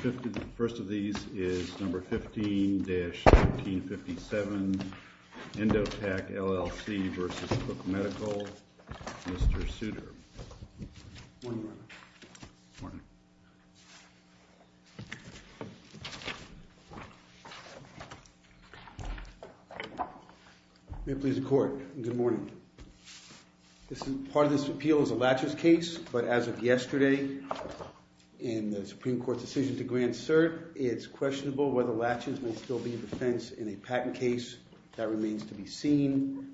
The first of these is number 15-1557 Endotach LLC v. Cook Medical. Mr. Souter. Good morning, Your Honor. Good morning. May it please the Court. Good morning. Part of this appeal is a laches case, but as of yesterday, in the Supreme Court's decision to grant cert, it's questionable whether laches may still be a defense in a patent case. That remains to be seen.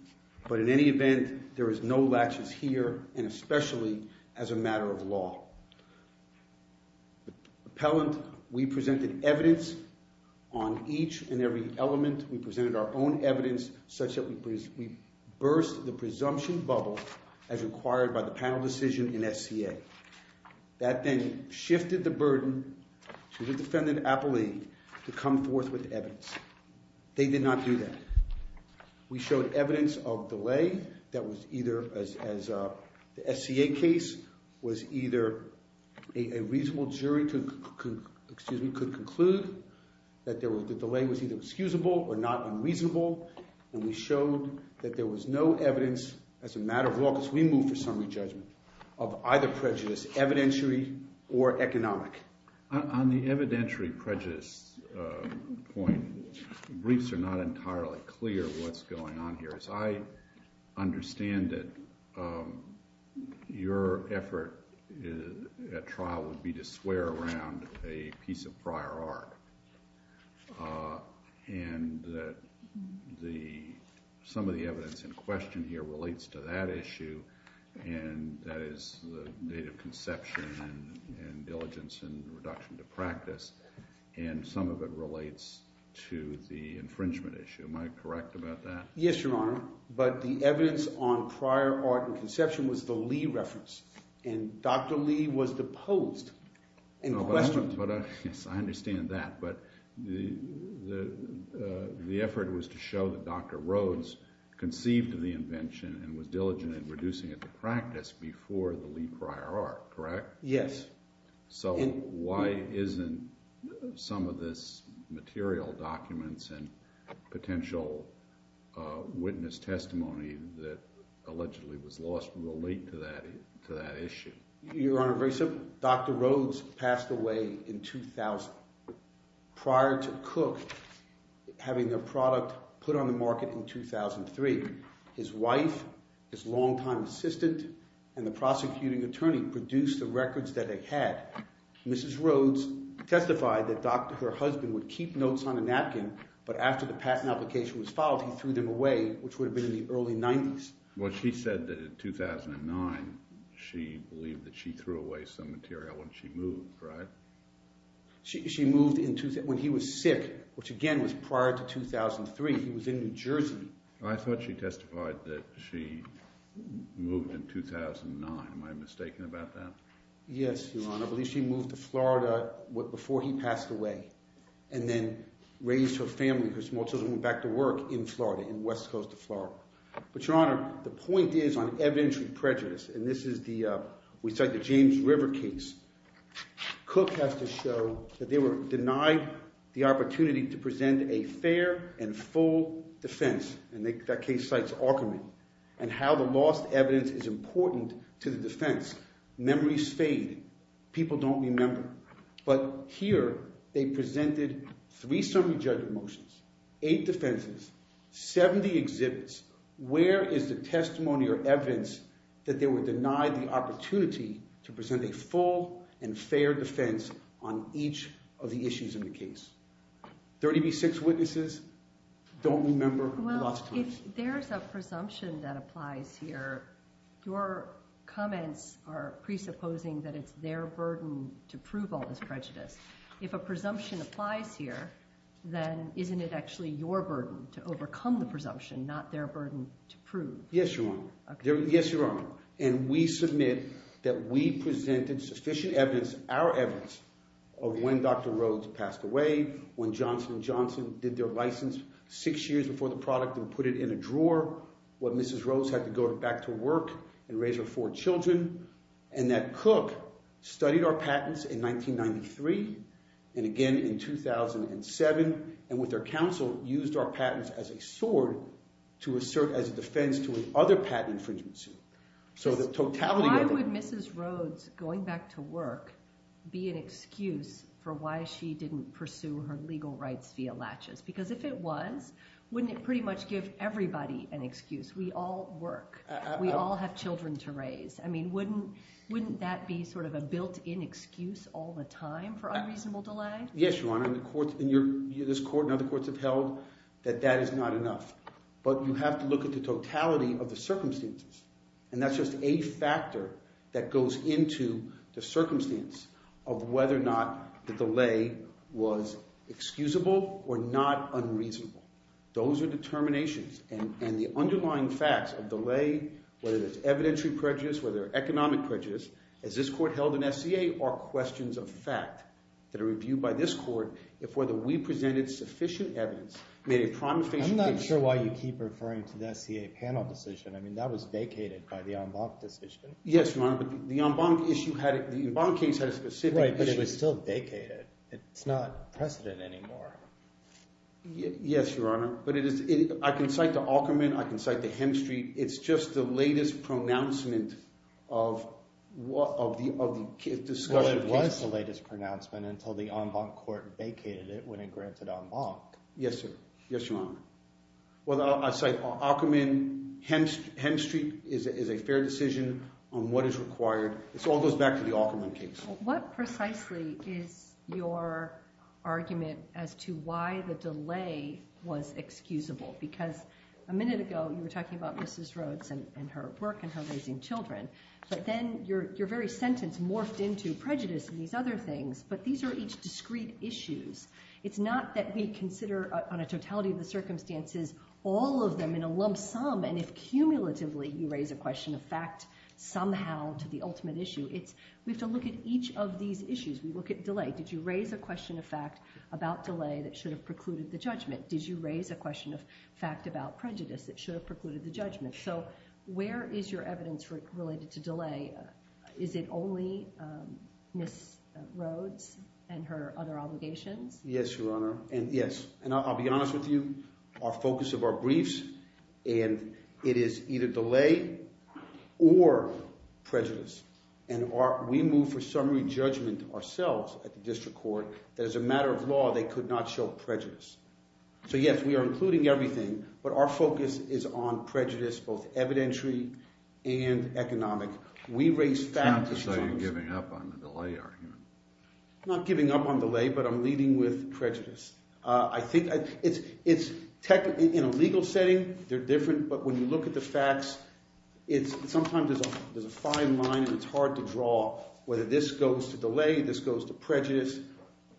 But in any event, there is no laches here, and especially as a matter of law. Appellant, we presented evidence on each and every element. We presented our own evidence such that we burst the presumption bubble as required by the panel decision in SCA. That then shifted the burden to the defendant, Appellee, to come forth with evidence. They did not do that. We showed evidence of delay that was either, as the SCA case, was either a reasonable jury to, excuse me, could conclude that the delay was either excusable or not unreasonable. And we showed that there was no evidence, as a matter of law, because we moved for summary judgment, of either prejudice, evidentiary or economic. On the evidentiary prejudice point, the briefs are not entirely clear what's going on here. As I understand it, your effort at trial would be to swear around a piece of prior art. And some of the evidence in question here relates to that issue, and that is the native conception and diligence and reduction to practice, and some of it relates to the infringement issue. Am I correct about that? Yes, Your Honor, but the evidence on prior art and conception was the Lee reference, and Dr. Lee was deposed and questioned. Yes, I understand that, but the effort was to show that Dr. Rhodes conceived the invention and was diligent in reducing it to practice before the Lee prior art, correct? Yes. So why isn't some of this material, documents, and potential witness testimony that allegedly was lost relate to that issue? Your Honor, very simply, Dr. Rhodes passed away in 2000. Prior to Cook having the product put on the market in 2003, his wife, his longtime assistant, and the prosecuting attorney produced the records that they had. Mrs. Rhodes testified that her husband would keep notes on a napkin, but after the patent application was filed, he threw them away, which would have been in the early 90s. Well, she said that in 2009 she believed that she threw away some material when she moved, right? She moved when he was sick, which again was prior to 2003. He was in New Jersey. I thought she testified that she moved in 2009. Am I mistaken about that? Yes, Your Honor. I believe she moved to Florida before he passed away and then raised her family, her small children, and went back to work in Florida, in West Coast of Florida. But, Your Honor, the point is on evidentiary prejudice, and this is the – we cite the James River case. Cook has to show that they were denied the opportunity to present a fair and full defense, and that case cites alchemy, and how the lost evidence is important to the defense. Memories fade. People don't remember. But here they presented three summary judgment motions, eight defenses, 70 exhibits. Where is the testimony or evidence that they were denied the opportunity to present a full and fair defense on each of the issues in the case? 30 v. 6 witnesses don't remember lost evidence. Well, if there's a presumption that applies here, your comments are presupposing that it's their burden to prove all this prejudice. If a presumption applies here, then isn't it actually your burden to overcome the presumption, not their burden to prove? Yes, Your Honor. Yes, Your Honor. And we submit that we presented sufficient evidence, our evidence, of when Dr. Rhodes passed away, when Johnson & Johnson did their license six years before the product and put it in a drawer, when Mrs. Rhodes had to go back to work and raise her four children, and that Cook studied our patents in 1993 and again in 2007, and with their counsel used our patents as a sword to assert as a defense to another patent infringement suit. So the totality of it— Why would Mrs. Rhodes going back to work be an excuse for why she didn't pursue her legal rights via latches? Because if it was, wouldn't it pretty much give everybody an excuse? We all work. We all have children to raise. I mean, wouldn't that be sort of a built-in excuse all the time for unreasonable delay? Yes, Your Honor, and this court and other courts have held that that is not enough. But you have to look at the totality of the circumstances, and that's just a factor that goes into the circumstance of whether or not the delay was excusable or not unreasonable. Those are determinations, and the underlying facts of delay, whether it's evidentiary prejudice, whether it's economic prejudice, as this court held in SCA, are questions of fact that are reviewed by this court if whether we presented sufficient evidence made a prima facie— I'm not sure why you keep referring to the SCA panel decision. I mean, that was vacated by the Embank decision. Yes, Your Honor, but the Embank issue had—the Embank case had a specific issue— Right, but it was still vacated. It's not precedent anymore. Yes, Your Honor, but it is—I can cite the Aukerman. I can cite the Hemstreet. It's just the latest pronouncement of the case— Well, it was the latest pronouncement until the Embank court vacated it when it granted Embank. Yes, sir. Yes, Your Honor. Well, I'll cite Aukerman. Hemstreet is a fair decision on what is required. It all goes back to the Aukerman case. What precisely is your argument as to why the delay was excusable? Because a minute ago you were talking about Mrs. Rhodes and her work and her raising children, but then your very sentence morphed into prejudice and these other things, but these are each discrete issues. It's not that we consider on a totality of the circumstances all of them in a lump sum, and if cumulatively you raise a question of fact somehow to the ultimate issue, it's we have to look at each of these issues. We look at delay. Did you raise a question of fact about delay that should have precluded the judgment? Did you raise a question of fact about prejudice that should have precluded the judgment? So where is your evidence related to delay? Is it only Mrs. Rhodes and her other obligations? Yes, Your Honor, and yes, and I'll be honest with you. Our focus of our briefs and it is either delay or prejudice, and we move for summary judgment ourselves at the district court that as a matter of law they could not show prejudice. So yes, we are including everything, but our focus is on prejudice, both evidentiary and economic. We raise facts. It's not to say you're giving up on the delay argument. I'm not giving up on delay, but I'm leading with prejudice. I think it's – in a legal setting they're different, but when you look at the facts, sometimes there's a fine line and it's hard to draw whether this goes to delay, this goes to prejudice.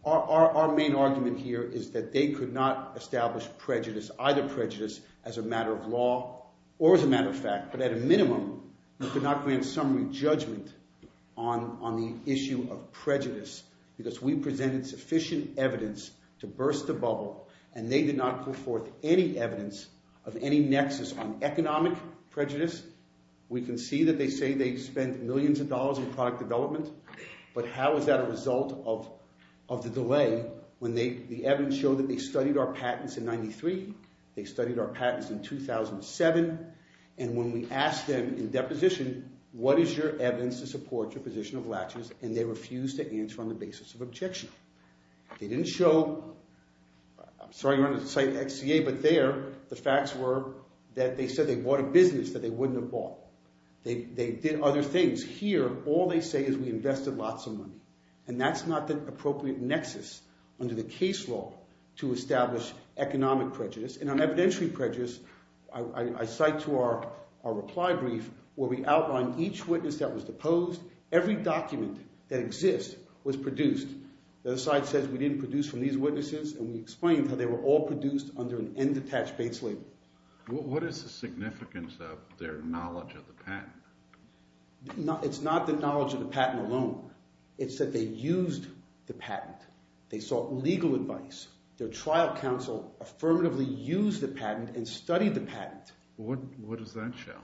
Our main argument here is that they could not establish prejudice, either prejudice as a matter of law or as a matter of fact, but at a minimum they could not grant summary judgment on the issue of prejudice because we presented sufficient evidence to burst the bubble, and they did not put forth any evidence of any nexus on economic prejudice. We can see that they say they spend millions of dollars in product development, but how is that a result of the delay when the evidence showed that they studied our patents in 1993, they studied our patents in 2007, and when we asked them in deposition, what is your evidence to support your position of latches, and they refused to answer on the basis of objection. They didn't show – I'm sorry to run the site XCA, but there the facts were that they said they bought a business that they wouldn't have bought. They did other things. Here all they say is we invested lots of money, and that's not the appropriate nexus under the case law to establish economic prejudice, and on evidentiary prejudice I cite to our reply brief where we outline each witness that was deposed, every document that exists was produced. The other side says we didn't produce from these witnesses, and we explained how they were all produced under an end-attached base label. What is the significance of their knowledge of the patent? It's not the knowledge of the patent alone. It's that they used the patent. They sought legal advice. Their trial counsel affirmatively used the patent and studied the patent. What does that show?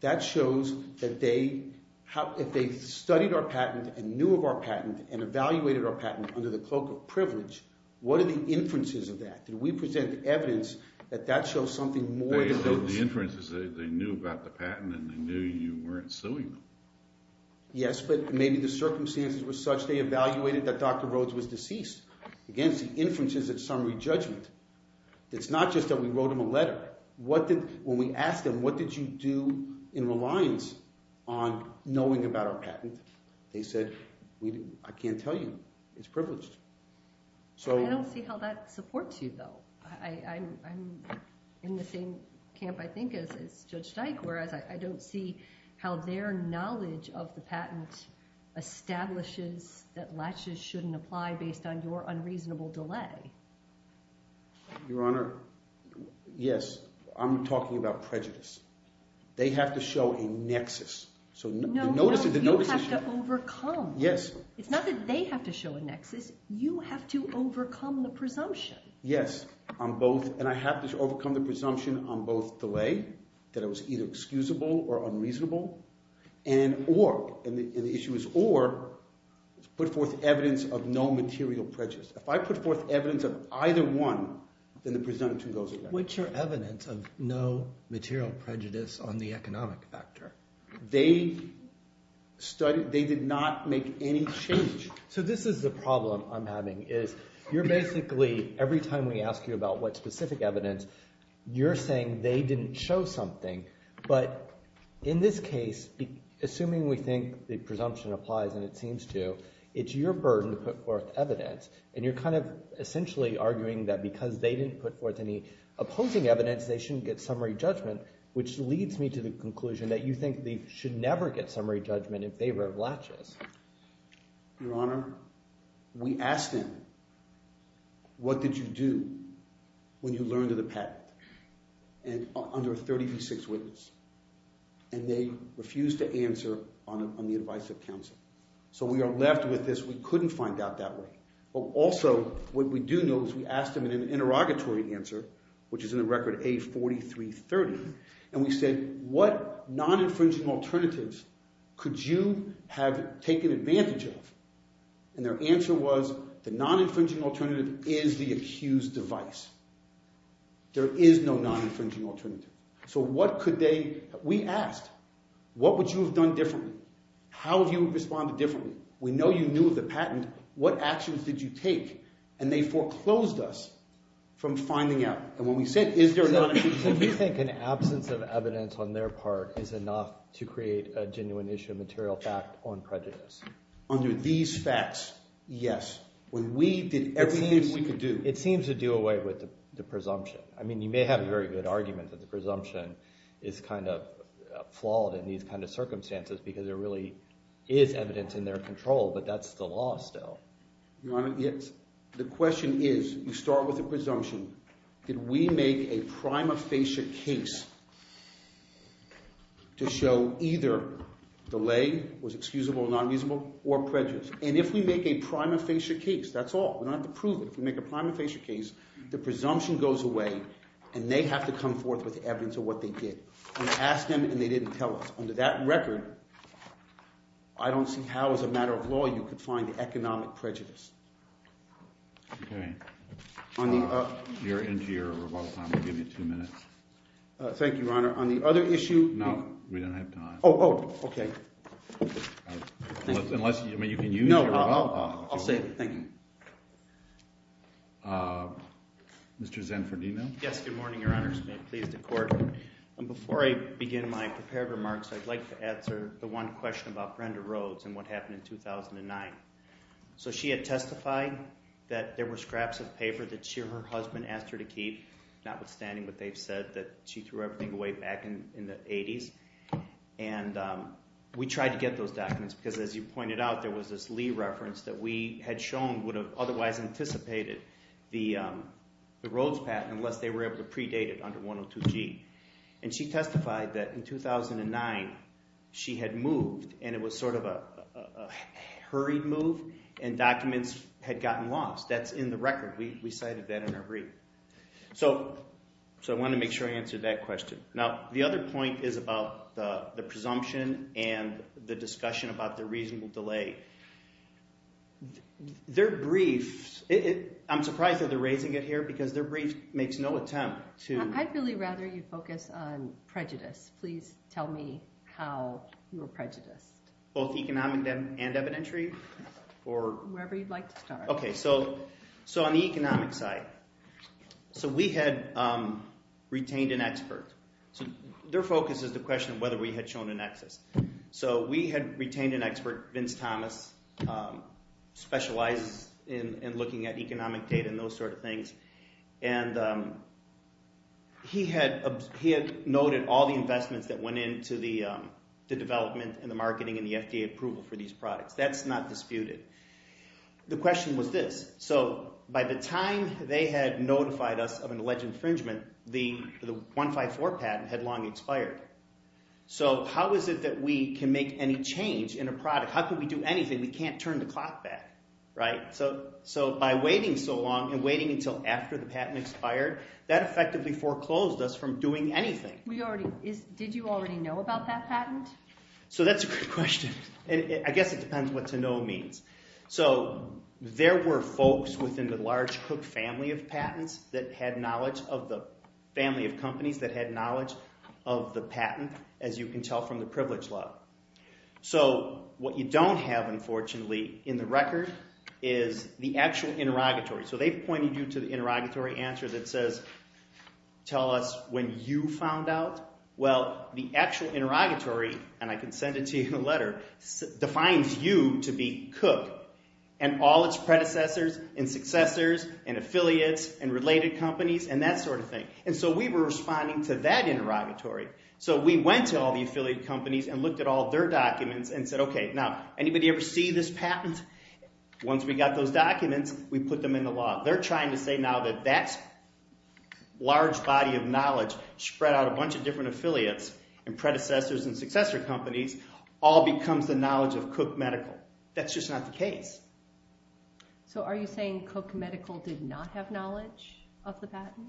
That shows that they – if they studied our patent and knew of our patent and evaluated our patent under the cloak of privilege, what are the inferences of that? Did we present evidence that that shows something more than those? The inference is that they knew about the patent and they knew you weren't suing them. Yes, but maybe the circumstances were such they evaluated that Dr. Rhodes was deceased. Again, it's the inferences of summary judgment. It's not just that we wrote him a letter. When we asked them what did you do in reliance on knowing about our patent, they said, I can't tell you. It's privileged. I don't see how that supports you, though. I'm in the same camp, I think, as Judge Dyke, whereas I don't see how their knowledge of the patent establishes that latches shouldn't apply based on your unreasonable delay. Your Honor, yes, I'm talking about prejudice. They have to show a nexus. No, no, you have to overcome. Yes. It's not that they have to show a nexus. You have to overcome the presumption. Yes, and I have to overcome the presumption on both delay, that it was either excusable or unreasonable, and the issue is or put forth evidence of no material prejudice. If I put forth evidence of either one, then the presumption goes away. What's your evidence of no material prejudice on the economic factor? They did not make any change. So this is the problem I'm having, is you're basically, every time we ask you about what specific evidence, you're saying they didn't show something. But in this case, assuming we think the presumption applies, and it seems to, it's your burden to put forth evidence, and you're kind of essentially arguing that because they didn't put forth any opposing evidence, they shouldn't get summary judgment, which leads me to the conclusion that you think they should never get summary judgment in favor of latches. Your Honor, we asked them, what did you do when you learned of the patent under a 30 v. 6 witness, and they refused to answer on the advice of counsel. So we are left with this, we couldn't find out that way. Also, what we do know is we asked them in an interrogatory answer, which is in the record A4330, and we said, what non-infringing alternatives could you have taken advantage of? And their answer was, the non-infringing alternative is the accused device. There is no non-infringing alternative. So what could they, we asked, what would you have done differently? How would you have responded differently? We know you knew of the patent, what actions did you take? And they foreclosed us from finding out. And when we said, is there a non-infringing alternative? So do you think an absence of evidence on their part is enough to create a genuine issue of material fact on prejudice? Under these facts, yes. When we did everything we could do. It seems to do away with the presumption. I mean, you may have a very good argument that the presumption is kind of flawed in these kind of circumstances because there really is evidence in their control, but that's the law still. Your Honor, yes. The question is, you start with a presumption. Did we make a prima facie case to show either the lay was excusable or not excusable or prejudice? And if we make a prima facie case, that's all. We don't have to prove it. If we make a prima facie case, the presumption goes away and they have to come forth with evidence of what they did. We asked them and they didn't tell us. Under that record, I don't see how as a matter of law you could find the economic prejudice. Okay. You're into your rebuttal time. I'll give you two minutes. Thank you, Your Honor. On the other issue... No, we don't have time. Oh, oh, okay. Unless you can use your rebuttal time. No, I'll save it. Thank you. Mr. Zanfordino? Yes, good morning, Your Honor. It's been a pleasure to court. Before I begin my prepared remarks, I'd like to answer the one question about Brenda Rhodes and what happened in 2009. So she had testified that there were scraps of paper that she or her husband asked her to keep, notwithstanding what they've said, that she threw everything away back in the 80s. And we tried to get those documents because, as you pointed out, there was this Lee reference that we had shown would have otherwise anticipated the Rhodes patent unless they were able to predate it under 102G. And she testified that in 2009 she had moved, and it was sort of a hurried move, and documents had gotten lost. That's in the record. We cited that in our brief. So I wanted to make sure I answered that question. Now, the other point is about the presumption and the discussion about the reasonable delay. Their briefs, I'm surprised that they're raising it here because their brief makes no attempt to... I'd really rather you focus on prejudice. Please tell me how you were prejudiced. Both economic and evidentiary? Wherever you'd like to start. Okay, so on the economic side. So we had retained an expert. Their focus is the question of whether we had shown a nexus. So we had retained an expert, Vince Thomas, specializes in looking at economic data and those sort of things. And he had noted all the investments that went into the development and the marketing and the FDA approval for these products. That's not disputed. The question was this. So by the time they had notified us of an alleged infringement, the 154 patent had long expired. So how is it that we can make any change in a product? How can we do anything? We can't turn the clock back, right? So by waiting so long and waiting until after the patent expired, that effectively foreclosed us from doing anything. Did you already know about that patent? So that's a good question. I guess it depends what to know means. So there were folks within the large Cook family of patents that had knowledge of the family of companies that had knowledge of the patent, as you can tell from the privilege level. So what you don't have, unfortunately, in the record is the actual interrogatory. So they've pointed you to the interrogatory answer that says, tell us when you found out. Well, the actual interrogatory, and I can send it to you in a letter, defines you to be Cook and all its predecessors and successors and affiliates and related companies and that sort of thing. And so we were responding to that interrogatory. So we went to all the affiliate companies and looked at all their documents and said, okay, now, anybody ever see this patent? Once we got those documents, we put them in the law. They're trying to say now that that large body of knowledge spread out a bunch of different affiliates and predecessors and successor companies all becomes the knowledge of Cook Medical. That's just not the case. So are you saying Cook Medical did not have knowledge of the patent?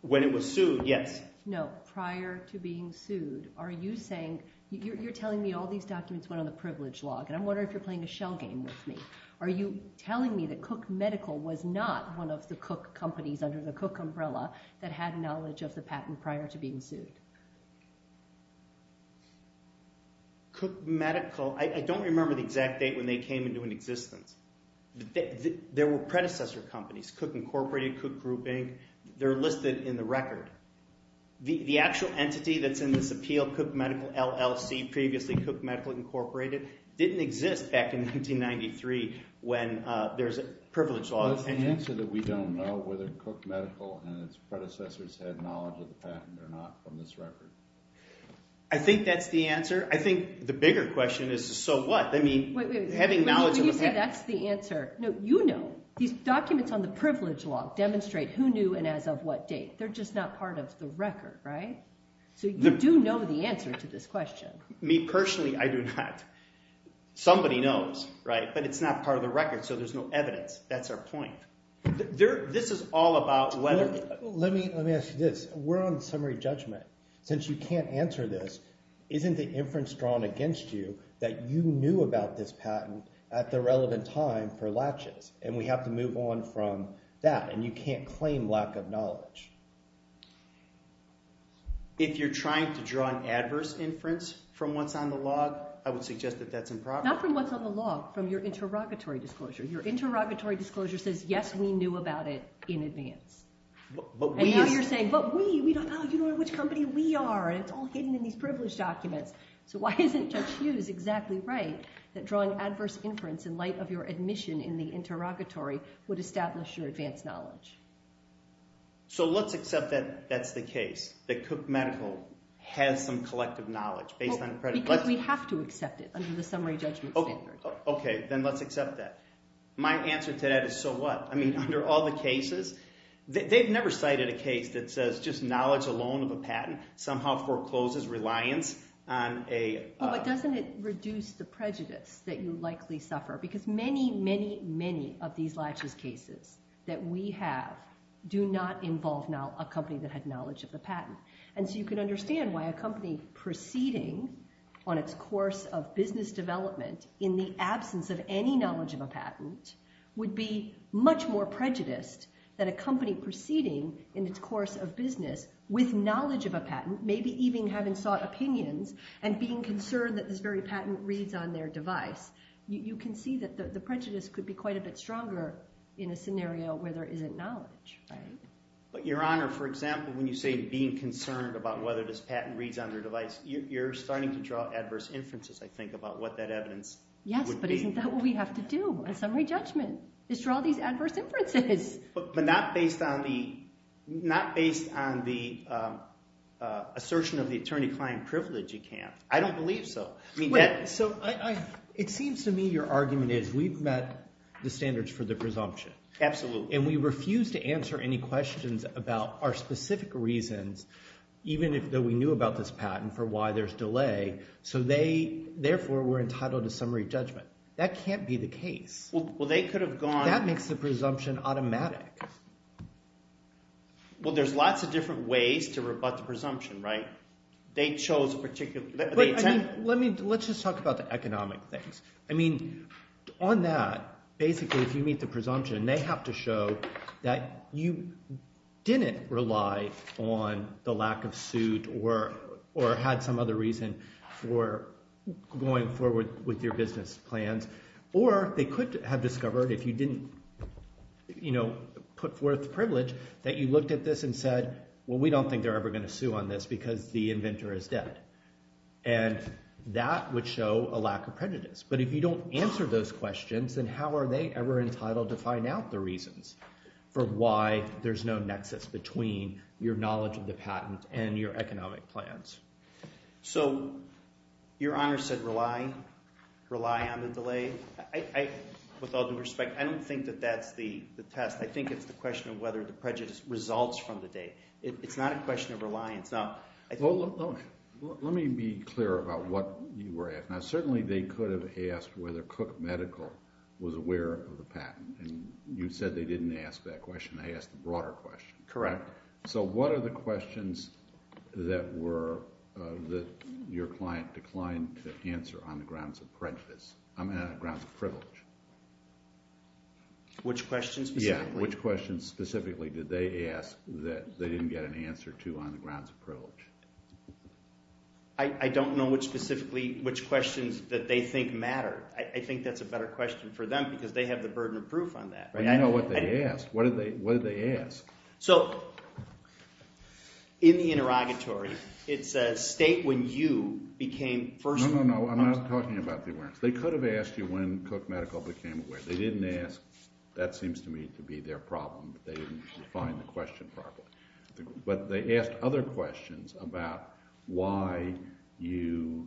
When it was sued, yes. No, prior to being sued. Are you saying... You're telling me all these documents went on the privilege log, and I'm wondering if you're playing a shell game with me. Are you telling me that Cook Medical was not one of the Cook companies under the Cook umbrella that had knowledge of the patent prior to being sued? Cook Medical... I don't remember the exact date when they came into existence. There were predecessor companies, Cook Incorporated, Cook Group, Inc. They're listed in the record. The actual entity that's in this appeal, Cook Medical LLC, previously Cook Medical Incorporated, didn't exist back in 1993 when there's a privilege log. What's the answer that we don't know, whether Cook Medical and its predecessors had knowledge of the patent or not from this record? I think that's the answer. I think the bigger question is, so what? I mean, having knowledge of the patent... When you say that's the answer... No, you know. These documents on the privilege log demonstrate who knew and as of what date. They're just not part of the record, right? So you do know the answer to this question. Me personally, I do not. Somebody knows, right? But it's not part of the record, so there's no evidence. That's our point. This is all about whether... Let me ask you this. We're on summary judgment. Since you can't answer this, isn't the inference drawn against you that you knew about this patent and we have to move on from that, and you can't claim lack of knowledge? If you're trying to draw an adverse inference from what's on the log, I would suggest that that's improper. Not from what's on the log, from your interrogatory disclosure. Your interrogatory disclosure says, yes, we knew about it in advance. And now you're saying, but we, we don't know. You don't know which company we are, and it's all hidden in these privilege documents. So why isn't Judge Hughes exactly right that drawing adverse inference in light of your admission in the interrogatory would establish your advanced knowledge? So let's accept that that's the case, that Cook Medical has some collective knowledge based on... Because we have to accept it under the summary judgment standard. Okay, then let's accept that. My answer to that is, so what? I mean, under all the cases, they've never cited a case that says just knowledge alone of a patent somehow forecloses reliance on a... Well, but doesn't it reduce the prejudice that you likely suffer? Because many, many, many of these laches cases that we have do not involve now a company that had knowledge of the patent. And so you can understand why a company proceeding on its course of business development in the absence of any knowledge of a patent would be much more prejudiced than a company proceeding in its course of business with knowledge of a patent, maybe even having sought opinions and being concerned that this very patent reads on their device. You can see that the prejudice could be quite a bit stronger in a scenario where there isn't knowledge, right? But Your Honor, for example, when you say being concerned about whether this patent reads on their device, you're starting to draw adverse inferences, I think, about what that evidence would be. Yes, but isn't that what we have to do in summary judgment, is draw these adverse inferences. But not based on the assertion of the attorney-client privilege, you can't. I don't believe so. So it seems to me your argument is we've met the standards for the presumption. Absolutely. And we refuse to answer any questions about our specific reasons, even though we knew about this patent, for why there's delay. So therefore, we're entitled to summary judgment. That can't be the case. Well, they could have gone... That makes the presumption automatic. Well, there's lots of different ways to rebut the presumption, right? They chose a particular... Let's just talk about the economic things. I mean, on that, basically, if you meet the presumption, they have to show that you didn't rely on the lack of suit or had some other reason for going forward with your business plans. Or they could have discovered, if you didn't put forth the privilege, that you looked at this and said, well, we don't think they're ever going to sue on this because the inventor is dead. And that would show a lack of prejudice. But if you don't answer those questions, then how are they ever entitled to find out the reasons for why there's no nexus between your knowledge of the patent and your economic plans? So your Honor said rely? Rely on the delay? With all due respect, I don't think that that's the test. I think it's the question of whether the prejudice results from the day. It's not a question of reliance. Well, let me be clear about what you were asking. Now, certainly they could have asked whether Cook Medical was aware of the patent. And you said they didn't ask that question. They asked a broader question. Correct. So what are the questions that your client declined to answer on the grounds of prejudice? I mean, on the grounds of privilege. Which questions specifically? that they didn't get an answer to on the grounds of privilege? I don't know specifically which questions that they think matter. I think that's a better question for them because they have the burden of proof on that. But you know what they asked. What did they ask? So, in the interrogatory, it says state when you became first... No, no, no, I'm not talking about the awareness. They could have asked you when Cook Medical became aware. They didn't ask. That seems to me to be their problem. They didn't define the question properly. But they asked other questions about why you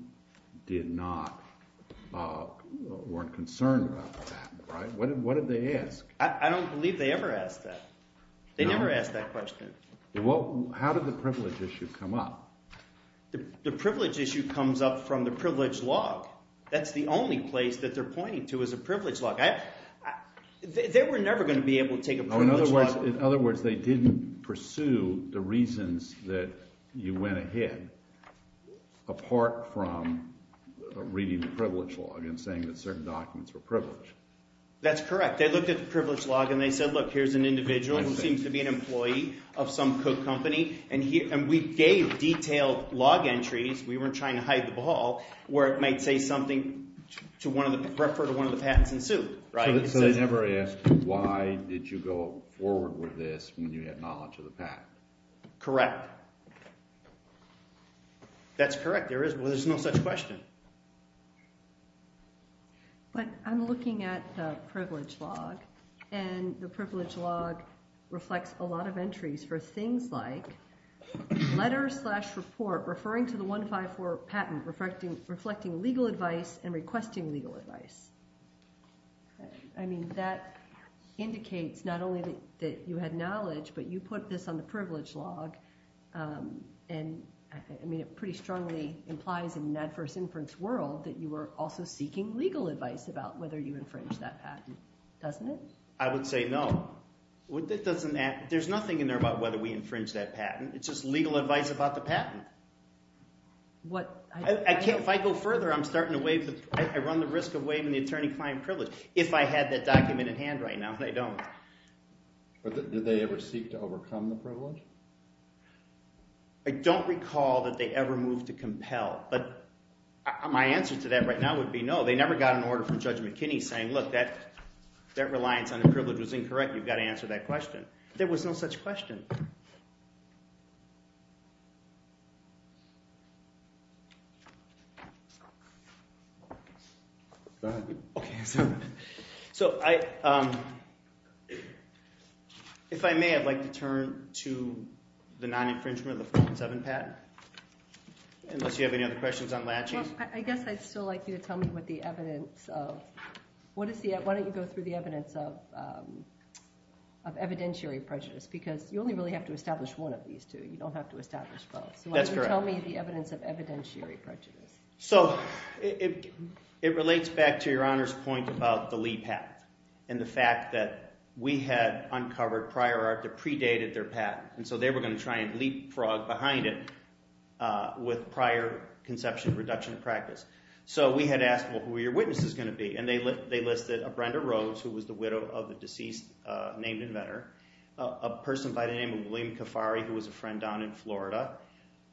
did not... weren't concerned about the patent. What did they ask? I don't believe they ever asked that. They never asked that question. How did the privilege issue come up? The privilege issue comes up from the privilege log. That's the only place that they're pointing to is a privilege log. They were never going to be able to take a privilege log. In other words, they didn't pursue the reasons that you went ahead apart from reading the privilege log and saying that certain documents were privileged. That's correct. They looked at the privilege log and they said, look, here's an individual who seems to be an employee of some Cook company. And we gave detailed log entries. We weren't trying to hide the ball where it might say something to refer to one of the patents in suit. So they never asked why did you go forward with this when you had knowledge of the patent? Correct. That's correct. There is no such question. But I'm looking at the privilege log and the privilege log reflects a lot of entries for things like letter slash report referring to the 154 patent reflecting legal advice and requesting legal advice. I mean, that indicates not only that you had knowledge but you put this on the privilege log and it pretty strongly implies in an adverse inference world that you were also seeking legal advice about whether you infringe that patent. Doesn't it? I would say no. There's nothing in there about whether we infringe that patent. It's just legal advice about the patent. If I go further, I run the risk of waiving the attorney-client privilege. If I had that document in hand right now, they don't. Did they ever seek to overcome the privilege? I don't recall that they ever moved to compel. But my answer to that right now would be no. They never got an order from Judge McKinney saying look, that reliance on the privilege was incorrect. You've got to answer that question. There was no such question. Go ahead. If I may, I'd like to turn to the non-infringement of the 407 patent. Unless you have any other questions on latching? I guess I'd still like you to tell me what the evidence of... Why don't you go through the evidence the evidence of evidentiary prejudice. I mean, if you go through the evidence you really have to establish one of these two. You don't have to establish both. That's correct. So why don't you tell me the evidence of evidentiary prejudice. So it relates back to Your Honor's point about the Lee patent and the fact that we had uncovered prior art that predated their patent. And so they were going to try and leapfrog behind it with prior conception reduction of practice. So we had asked, well, who are your witnesses going to be? And they listed a Brenda Rose, who was the widow of the deceased named inventor, a person by the name of William Kafari who was a friend down in Florida,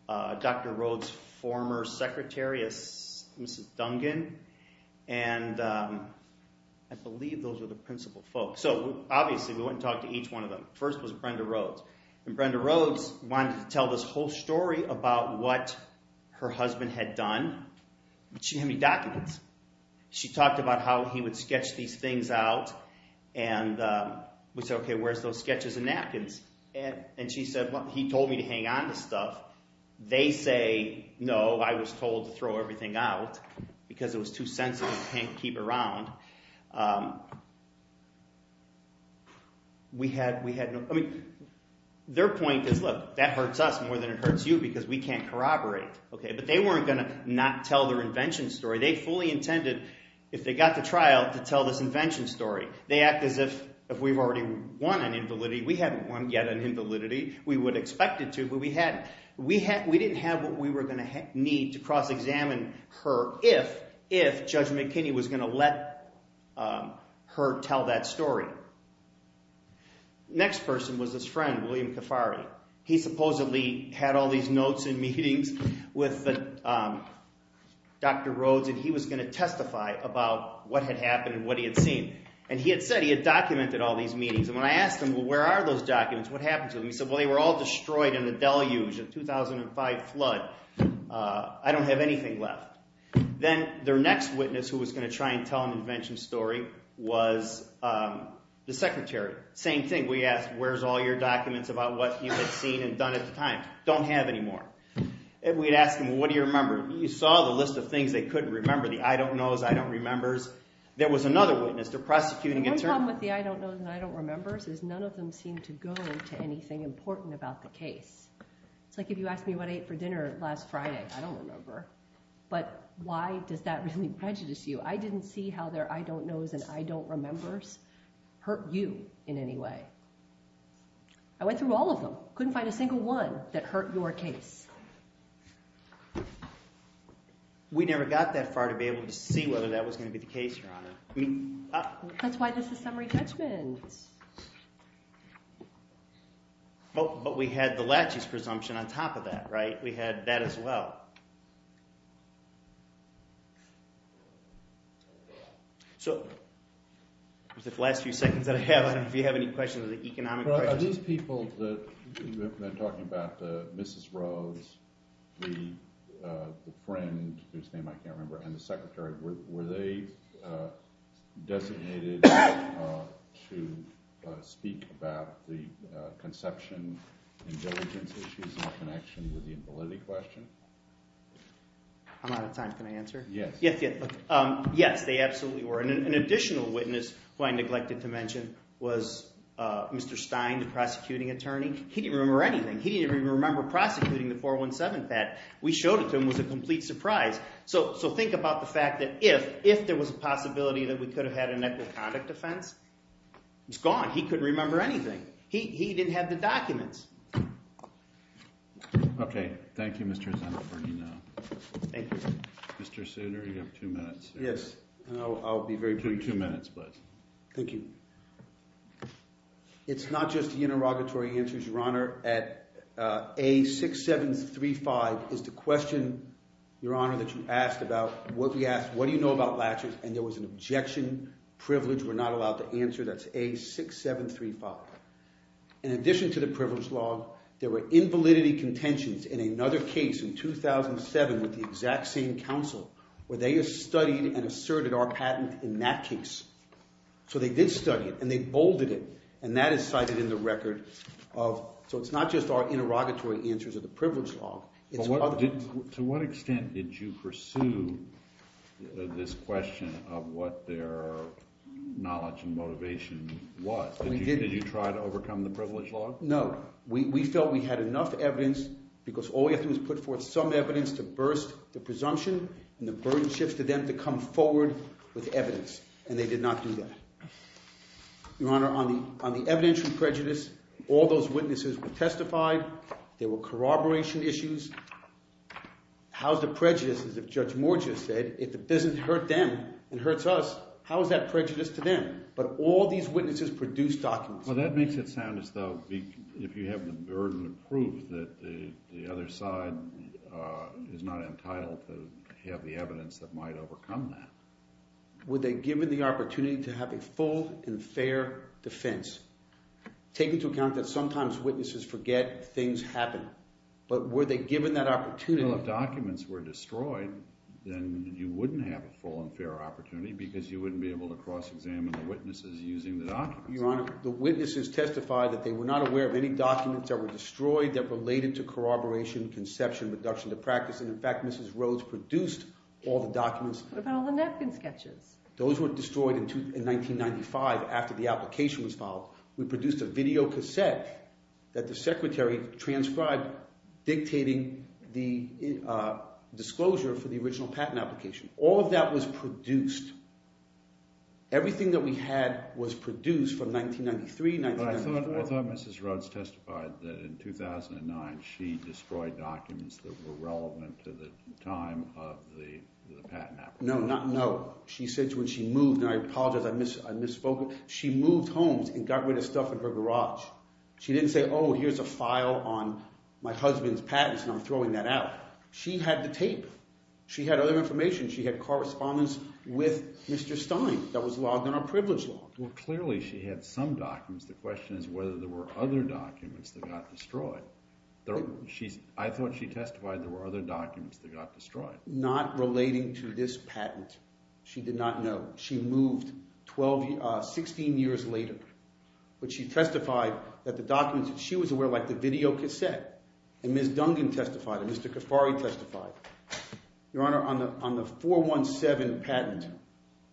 Dr. Rose's former secretary, Mrs. Dungan. And I believe those were the principal folks. So obviously we went and talked to each one of them. First was Brenda Rose. And Brenda Rose wanted to tell this whole story about what her husband had done. But she didn't have any documents. She talked about how he would sketch these things out. And we said, okay, where's those sketches and napkins? And she said, well, he told me to hang on to stuff. They say, no, I was told to throw everything out because it was too sensitive to keep around. Their point is, look, that hurts us more than it hurts you because we can't corroborate. But they weren't going to not tell their invention story. They fully intended, if they got to trial, to tell this invention story. They act as if we've already won an invalidity. We haven't won yet an invalidity. We would expect it to, but we hadn't. We didn't have what we were going to need to cross-examine her if Judge McKinney was going to let her tell that story. Next person was this friend, William Kafari. He supposedly had all these notes and meetings with Dr. Rose, and he was going to testify about what had happened and what he had seen. And he had said he had documented all these meetings. And when I asked him, well, where are those documents? What happened to them? He said, well, they were all destroyed in the deluge, the 2005 flood. I don't have anything left. Then their next witness who was going to try and tell an invention story was the secretary. Same thing. We asked, where's all your documents about what you had seen and done at the time? Don't have any more. And we'd ask him, well, what do you remember? He saw the list of things they couldn't remember, the I don't knows, I don't remembers. There was another witness. They're prosecuting against her. The one problem with the I don't knows and I don't remembers is none of them seem to go to anything important about the case. It's like if you asked me what I ate for dinner last Friday. I don't remember. But why does that really prejudice you? I didn't see how their I don't knows and I don't remembers hurt you in any way. I went through all of them. Couldn't find a single one that hurt your case. We never got that far to be able to see whether that was going to be the case, Your Honor. That's why this is summary judgment. But we had the Lachey's presumption on top of that, right? We had that as well. So those last few seconds that I have, I don't know if you have any questions, economic questions. Are these people that you've been talking about, Mrs. Rhodes, the friend whose name I can't remember, and the secretary, were they designated to speak about the conception and diligence issues in connection with the invalidity question? I'm out of time. Can I answer? Yes. Yes, they absolutely were. And an additional witness who I neglected to mention was Mr. Stein, the prosecuting attorney. He didn't remember anything. He didn't even remember prosecuting the 417 theft. We showed it to him. It was a complete surprise. So think about the fact that if there was a possibility that we could have had an equitable conduct offense, it's gone. He couldn't remember anything. He didn't have the documents. OK. Thank you, Mr. Zennifer. Thank you. Mr. Souter, you have two minutes. Yes. I'll be very brief. Two minutes, please. Thank you. It's not just the interrogatory answers, Your Honor. A6735 is the question, Your Honor, that you asked about what we asked, what do you know about latches? And there was an objection. Privilege. We're not allowed to answer. That's A6735. In addition to the privilege law, there were invalidity contentions in another case in 2007 with the exact same counsel where they had studied and asserted our patent in that case. So they did study it. And they bolded it. And that is cited in the record. So it's not just our interrogatory answers of the privilege law. To what extent did you pursue this question of what their knowledge and motivation was? Did you try to overcome the privilege law? No. We felt we had enough evidence because all we had to do was put forth some evidence to burst the presumption and the burden shifts to them to come forward with evidence. And they did not do that. Your Honor, on the evidentiary prejudice, all those witnesses testified. There were corroboration issues. How's the prejudice, as Judge Morgia said, if it doesn't hurt them, it hurts us. How is that prejudice to them? But all these witnesses produced documents. Well, that makes it sound as though if you have the burden of proof that the other side is not entitled to have the evidence that might overcome that. Were they given the opportunity to have a full and fair defense? Take into account that sometimes witnesses forget things happen. But were they given that opportunity? Well, if documents were destroyed, then you wouldn't have a full and fair opportunity because you wouldn't be able to cross-examine the witnesses using the documents. Your Honor, the witnesses testified that they were not aware of any documents that were destroyed that related to corroboration, conception, reduction to practice. And in fact, Mrs. Rhodes produced all the documents. What about all the napkin sketches? Those were destroyed in 1995, after the application was filed. We produced a videocassette that the Secretary transcribed dictating the disclosure for the original patent application. All of that was produced. Everything that we had was produced from 1993, 1994. But I thought Mrs. Rhodes testified that in 2009 she destroyed documents that were relevant to the time of the patent application. No, no. She said when she moved, and I apologize, I misspoke. She moved homes and got rid of stuff in her garage. She didn't say, oh, here's a file on my husband's patents and I'm throwing that out. She had the tape. She had other information. She had correspondence with Mr. Stein that was logged on our privilege log. Well, clearly she had some documents. The question is whether there were other documents that got destroyed. I thought she testified there were other documents that got destroyed. Not relating to this patent. She did not know. She moved 16 years later. But she testified that the documents that she was aware of, like the videocassette, and Ms. Dungan testified, and Mr. Khafari testified, Your Honor, on the 417 patent.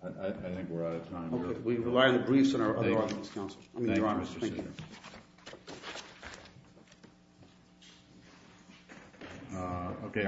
I think we're out of time. We rely on the briefs of our other audience counsel. Thank you, Mr. Senior. Okay.